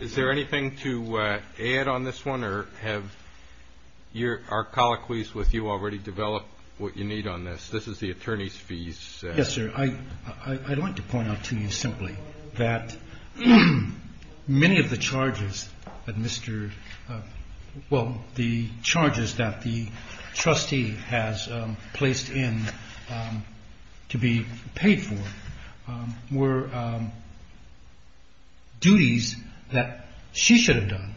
Is there anything to add on this one or have our colloquies with you already developed what you need on this? This is the attorney's fees. Yes, sir. I'd like to point out to you simply that many of the charges that the trustee has placed in to be paid for were duties that she should have done,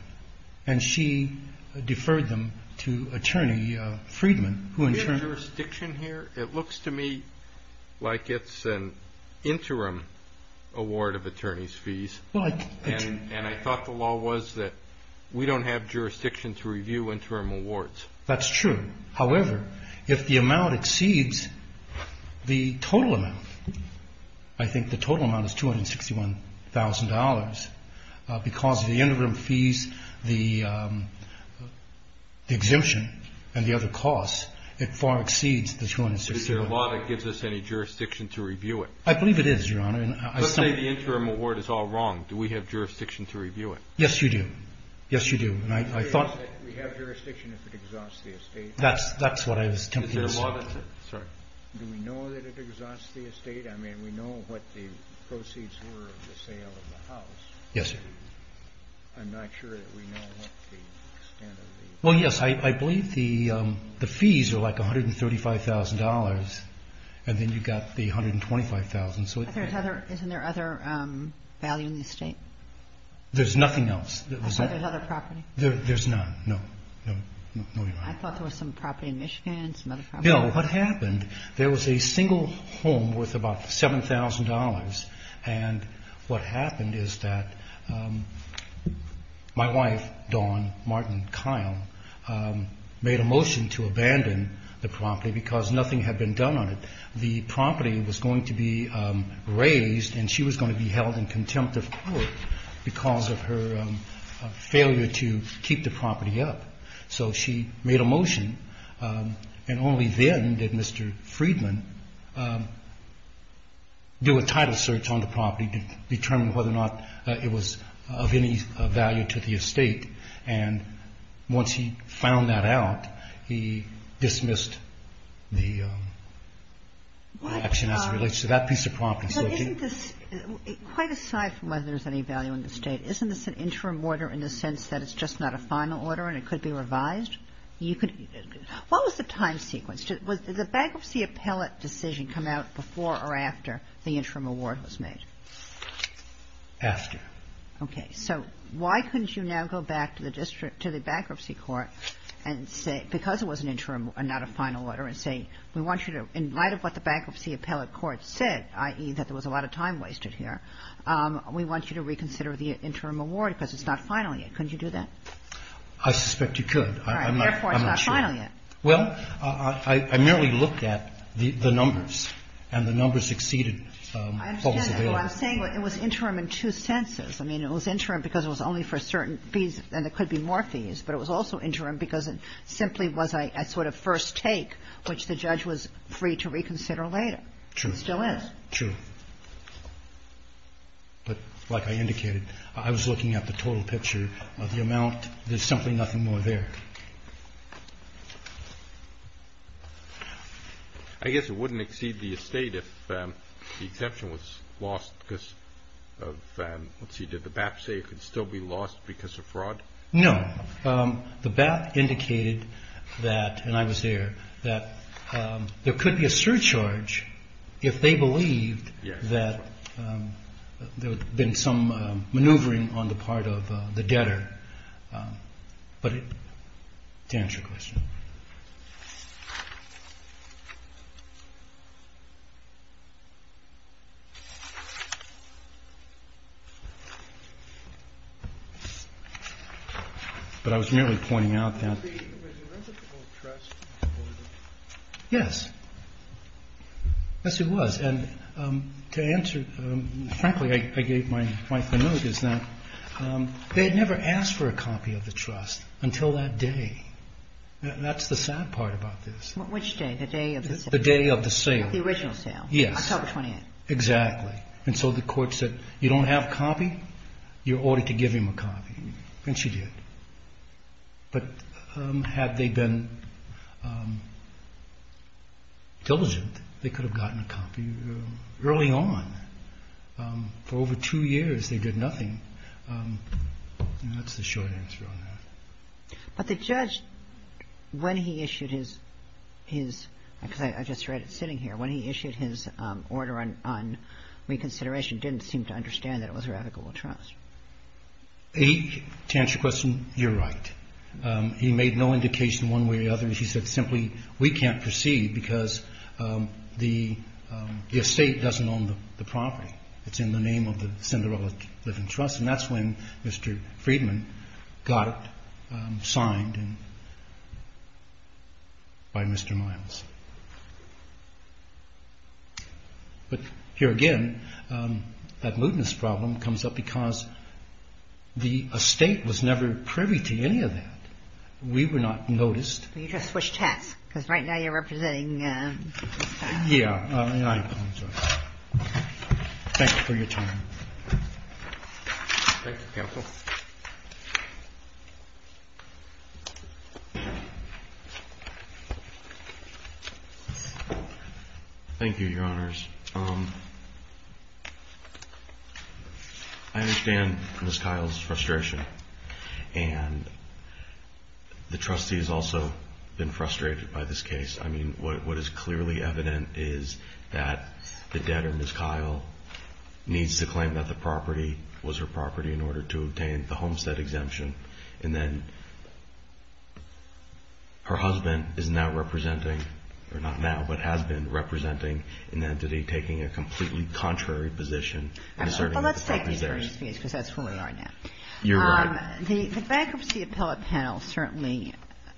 and she deferred them to Attorney Friedman, who in turn... Is there jurisdiction here? It looks to me like it's an interim award of attorney's fees, and I thought the law was that we don't have jurisdiction to review interim awards. That's true. However, if the amount exceeds the total amount, I think the total amount is $261,000, because of the interim fees, the exemption, and the other costs, it far exceeds the $261,000. Is there a law that gives us any jurisdiction to review it? I believe it is, Your Honor. Let's say the interim award is all wrong. Do we have jurisdiction to review it? Yes, you do. Yes, you do. We have jurisdiction if it exhausts the estate. That's what I was attempting to say. Is there a law that... Sorry. Do we know that it exhausts the estate? I mean, we know what the proceeds were of the sale of the house. Yes, sir. I'm not sure that we know what the extent of the... Well, yes. I believe the fees are like $135,000, and then you've got the $125,000. Isn't there other value in the estate? There's nothing else. Other property? There's none. No. No, Your Honor. I thought there was some property in Michigan, some other property. No. What happened, there was a single home worth about $7,000, and what happened is that my wife, Dawn Martin Kyle, made a motion to abandon the property because nothing had been done on it. The property was going to be raised, and she was going to be held in contempt of court because of her failure to keep the property up. So she made a motion, and only then did Mr. Friedman do a title search on the property to determine whether or not it was of any value to the estate. And once he found that out, he dismissed the action as it relates to that piece of property. But isn't this, quite aside from whether there's any value in the estate, isn't this an interim order in the sense that it's just not a final order and it could be revised? What was the time sequence? Did the bankruptcy appellate decision come out before or after the interim award was made? After. Okay. So why couldn't you now go back to the bankruptcy court and say, because it was an interim and not a final order, and say, we want you to, in light of what the bankruptcy appellate court said, i.e., that there was a lot of time wasted here, we want you to reconsider the interim award because it's not final yet. Couldn't you do that? I suspect you could. All right. Therefore, it's not final yet. Well, I merely looked at the numbers, and the numbers exceeded what was available. I understand. I'm saying it was interim in two senses. I mean, it was interim because it was only for certain fees, and there could be more fees. But it was also interim because it simply was a sort of first take, which the judge was free to reconsider later. True. It still is. True. But like I indicated, I was looking at the total picture of the amount. There's simply nothing more there. I guess it wouldn't exceed the estate if the exception was lost because of, let's see, did the BAP say it could still be lost because of fraud? No. The BAP indicated that, and I was there, that there could be a surcharge if they believed that there had been some maneuvering on the part of the debtor. But to answer your question. But I was merely pointing out that. Was the original copy of the trust? Yes. Yes, it was. And to answer, frankly, I gave my family members that. They had never asked for a copy of the trust until that day. That's the sad part about this. Which day? The day of the sale. The day of the sale. The original sale. Yes. October 28th. Exactly. And so the court said, you don't have a copy, you're ordered to give him a copy. And she did. But had they been diligent, they could have gotten a copy early on. For over two years, they did nothing. And that's the short answer on that. But the judge, when he issued his, because I just read it sitting here, when he issued his order on reconsideration, didn't seem to understand that it was her ethical trust. To answer your question, you're right. He made no indication one way or the other. He said simply, we can't proceed because the estate doesn't own the property. It's in the name of the Cinderella Living Trust. And that's when Mr. Friedman got it signed by Mr. Miles. But here again, that mootness problem comes up because the estate was never privy to any of that. We were not noticed. You just switched hats. Because right now you're representing. Yeah. I apologize. Thank you. Thank you. Thank you. Thank you. Thank you. Thank you. Thank you. Thank you. Thank you, Your Honors. I understand Ms. Kyle's frustration. And the trustee has also been frustrated by this case. I mean, what is clearly evident is that the debtor, Ms. Kyle, needs to claim that the property was her property in order to obtain the homestead exemption. And then her husband is now representing, or not now, but has been representing an entity taking a completely contrary position. Well, let's take these various fees because that's who we are now. You're right. The bankruptcy appellate panel certainly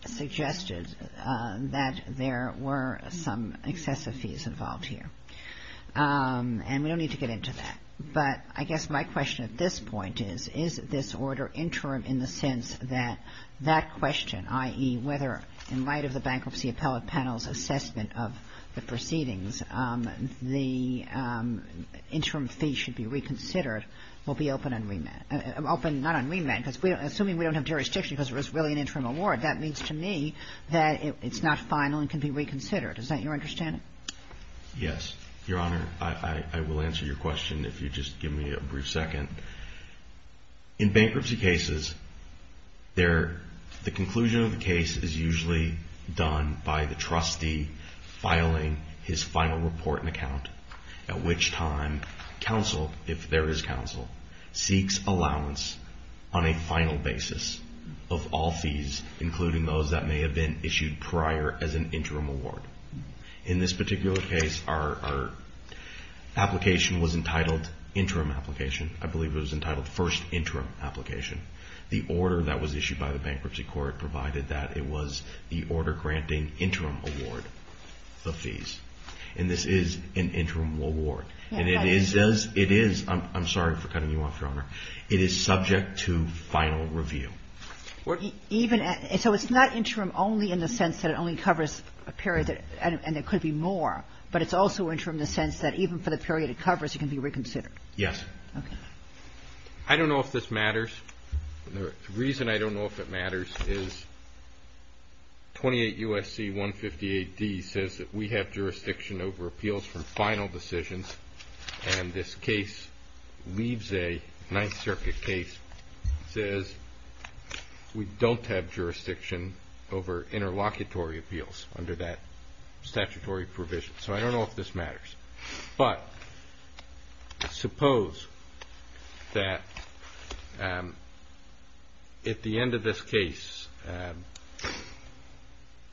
suggested that there were some excessive fees involved here. And we don't need to get into that. But I guess my question at this point is, is this order interim in the sense that that question, i.e., whether in light of the bankruptcy appellate panel's assessment of the proceedings, the interim fee should be reconsidered, will be open on remand. Open not on remand because assuming we don't have jurisdiction because it was really an interim award, that means to me that it's not final and can be reconsidered. Is that your understanding? Yes. Your Honor, I will answer your question if you just give me a brief second. In bankruptcy cases, the conclusion of the case is usually done by the trustee filing his final report and account, at which time counsel, if there is counsel, seeks allowance on a final basis of all fees, including those that may have been issued prior as an interim award. In this particular case, our application was entitled interim application. I believe it was entitled first interim application. The order that was issued by the bankruptcy court provided that it was the order granting interim award of fees. And this is an interim award. And it is, I'm sorry for cutting you off, Your Honor, it is subject to final review. So it's not interim only in the sense that it only covers a period and there could be more, but it's also interim in the sense that even for the period it covers, it can be reconsidered? Yes. Okay. I don't know if this matters. The reason I don't know if it matters is 28 U.S.C. 158d says that we have jurisdiction over appeals from final decisions, and this case leaves a Ninth Circuit case, says we don't have jurisdiction over interlocutory appeals under that statutory provision. So I don't know if this matters. But suppose that at the end of this case,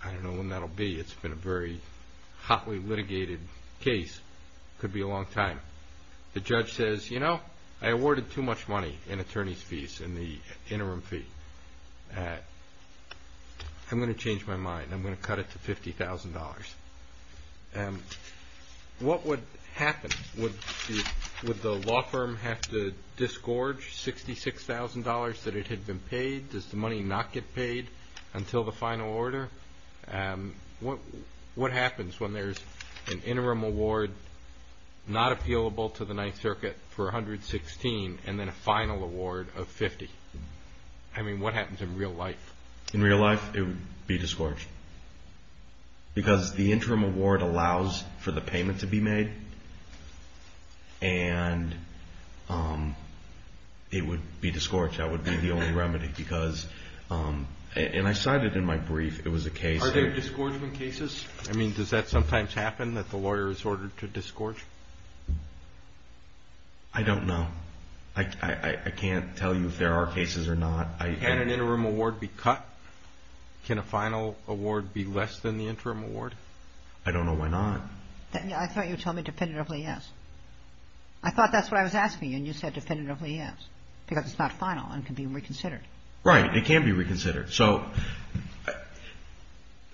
I don't know when that will be, it's been a very hotly litigated case, could be a long time. The judge says, you know, I awarded too much money in attorney's fees in the interim fee. I'm going to change my mind. I'm going to cut it to $50,000. What would happen? Would the law firm have to disgorge $66,000 that it had been paid? Does the money not get paid until the final order? What happens when there's an interim award not appealable to the Ninth Circuit for $116,000 and then a final award of $50,000? I mean, what happens in real life? In real life, it would be disgorged. Because the interim award allows for the payment to be made, and it would be disgorged. That would be the only remedy. And I cited in my brief, it was a case... Are there disgorgement cases? I mean, does that sometimes happen, that the lawyer is ordered to disgorge? I don't know. I can't tell you if there are cases or not. Can an interim award be cut? Can a final award be less than the interim award? I don't know. Why not? I thought you told me definitively yes. I thought that's what I was asking you, and you said definitively yes. Because it's not final and can be reconsidered. Right. It can be reconsidered. So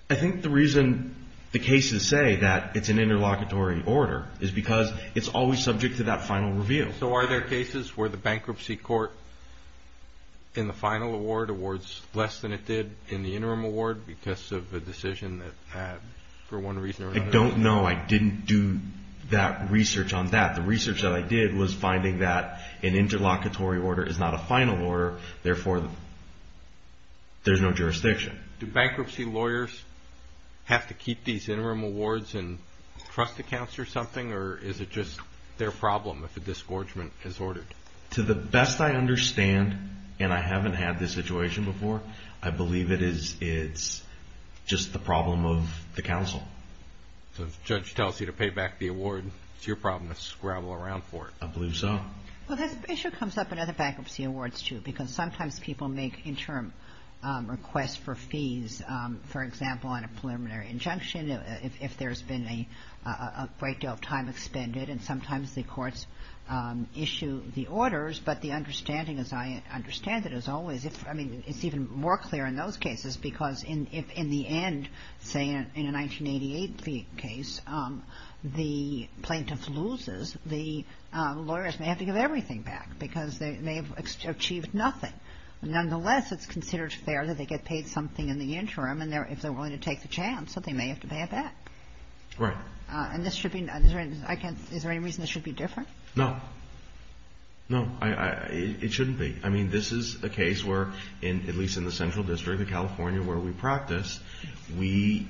I think the reason the cases say that it's an interlocutory order is because it's always subject to that final review. So are there cases where the bankruptcy court in the final award awards less than it did in the interim award because of a decision that had, for one reason or another... I don't know. I didn't do that research on that. The research that I did was finding that an interlocutory order is not a final order, therefore there's no jurisdiction. Do bankruptcy lawyers have to keep these interim awards in trust accounts or something, or is it just their problem if a disgorgement is ordered? To the best I understand, and I haven't had this situation before, I believe it's just the problem of the counsel. So if a judge tells you to pay back the award, it's your problem to scrabble around for it. I believe so. Well, that issue comes up in other bankruptcy awards too, because sometimes people make interim requests for fees, for example, on a preliminary injunction, if there's been a great deal of time expended, and sometimes the courts issue the orders, but the understanding, as I understand it, is always... I mean, it's even more clear in those cases, because if in the end, say in a 1988 case, the plaintiff loses, the lawyers may have to give everything back, because they may have achieved nothing. Nonetheless, it's considered fair that they get paid something in the interim, and if they're willing to take the chance, they may have to pay it back. Right. And this should be... Is there any reason this should be different? No. No, it shouldn't be. I mean, this is a case where, at least in the Central District of California, where we practice, we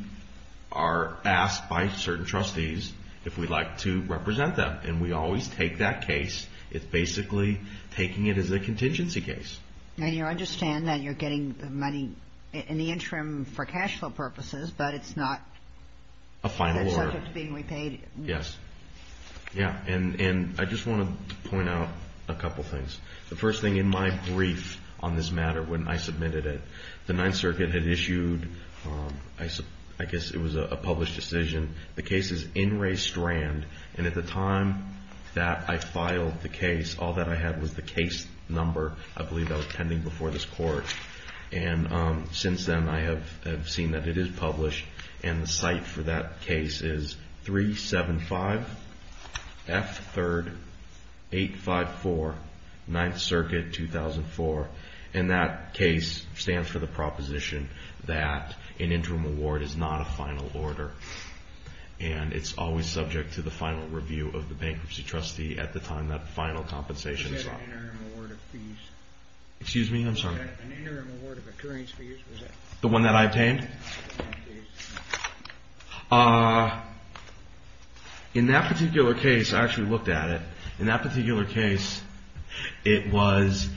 are asked by certain trustees if we'd like to represent them, and we always take that case. It's basically taking it as a contingency case. And you understand that you're getting the money in the interim for cash flow purposes, but it's not... A final order. ...a subject being repaid. Yes. Yeah, and I just want to point out a couple things. The first thing, in my brief on this matter, when I submitted it, the Ninth Circuit had issued... I guess it was a published decision. The case is in Ray Strand, and at the time that I filed the case, all that I had was the case number. I believe that was pending before this Court. And since then, I have seen that it is published, and the site for that case is 375 F 3rd 854, Ninth Circuit, 2004. And that case stands for the proposition that an interim award is not a final order. And it's always subject to the final review of the bankruptcy trustee at the time that the final compensation is filed. You said an interim award of fees. Excuse me? I'm sorry. You said an interim award of occurrence fees. The one that I obtained? Yes. In that particular case, I actually looked at it. In that particular case, it was...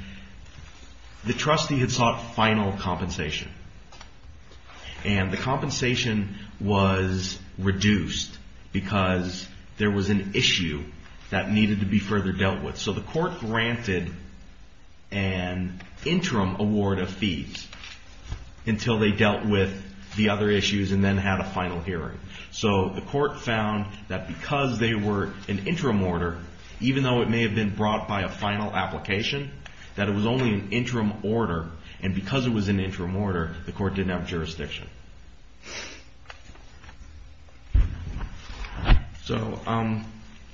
The trustee had sought final compensation. And the compensation was reduced because there was an issue that needed to be further dealt with. So the Court granted an interim award of fees until they dealt with the other issues and then had a final hearing. So the Court found that because they were an interim order, even though it may have been brought by a final application, that it was only an interim order. And because it was an interim order, the Court didn't have jurisdiction. So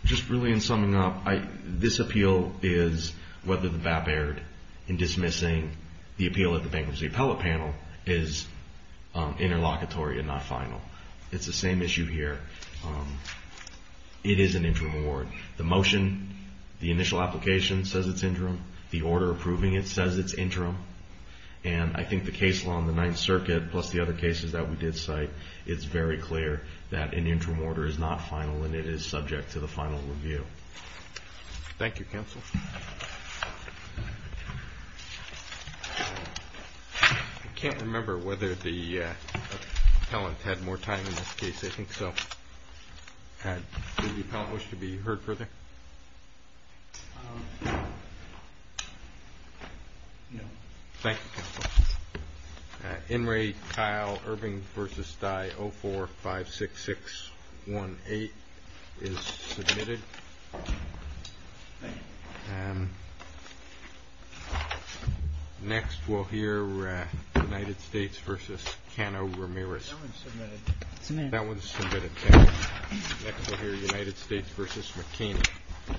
just really in summing up, this appeal is whether the BAP erred in dismissing the appeal at the Bankruptcy Appellate Panel is interlocutory and not final. It's the same issue here. It is an interim award. The motion, the initial application says it's interim. The order approving it says it's interim. And I think the case law on the Ninth Circuit plus the other cases that we did cite, it's very clear that an interim order is not final and it is subject to the final review. Thank you, counsel. I can't remember whether the appellant had more time in this case. I think so. Did the appellant wish to be heard further? No. Thank you, counsel. In re, Kyle Irving v. Stey 0456618 is submitted. Thank you. Next we'll hear United States v. Cano Ramirez. That one's submitted. That one's submitted. Next we'll hear United States v. McKinney.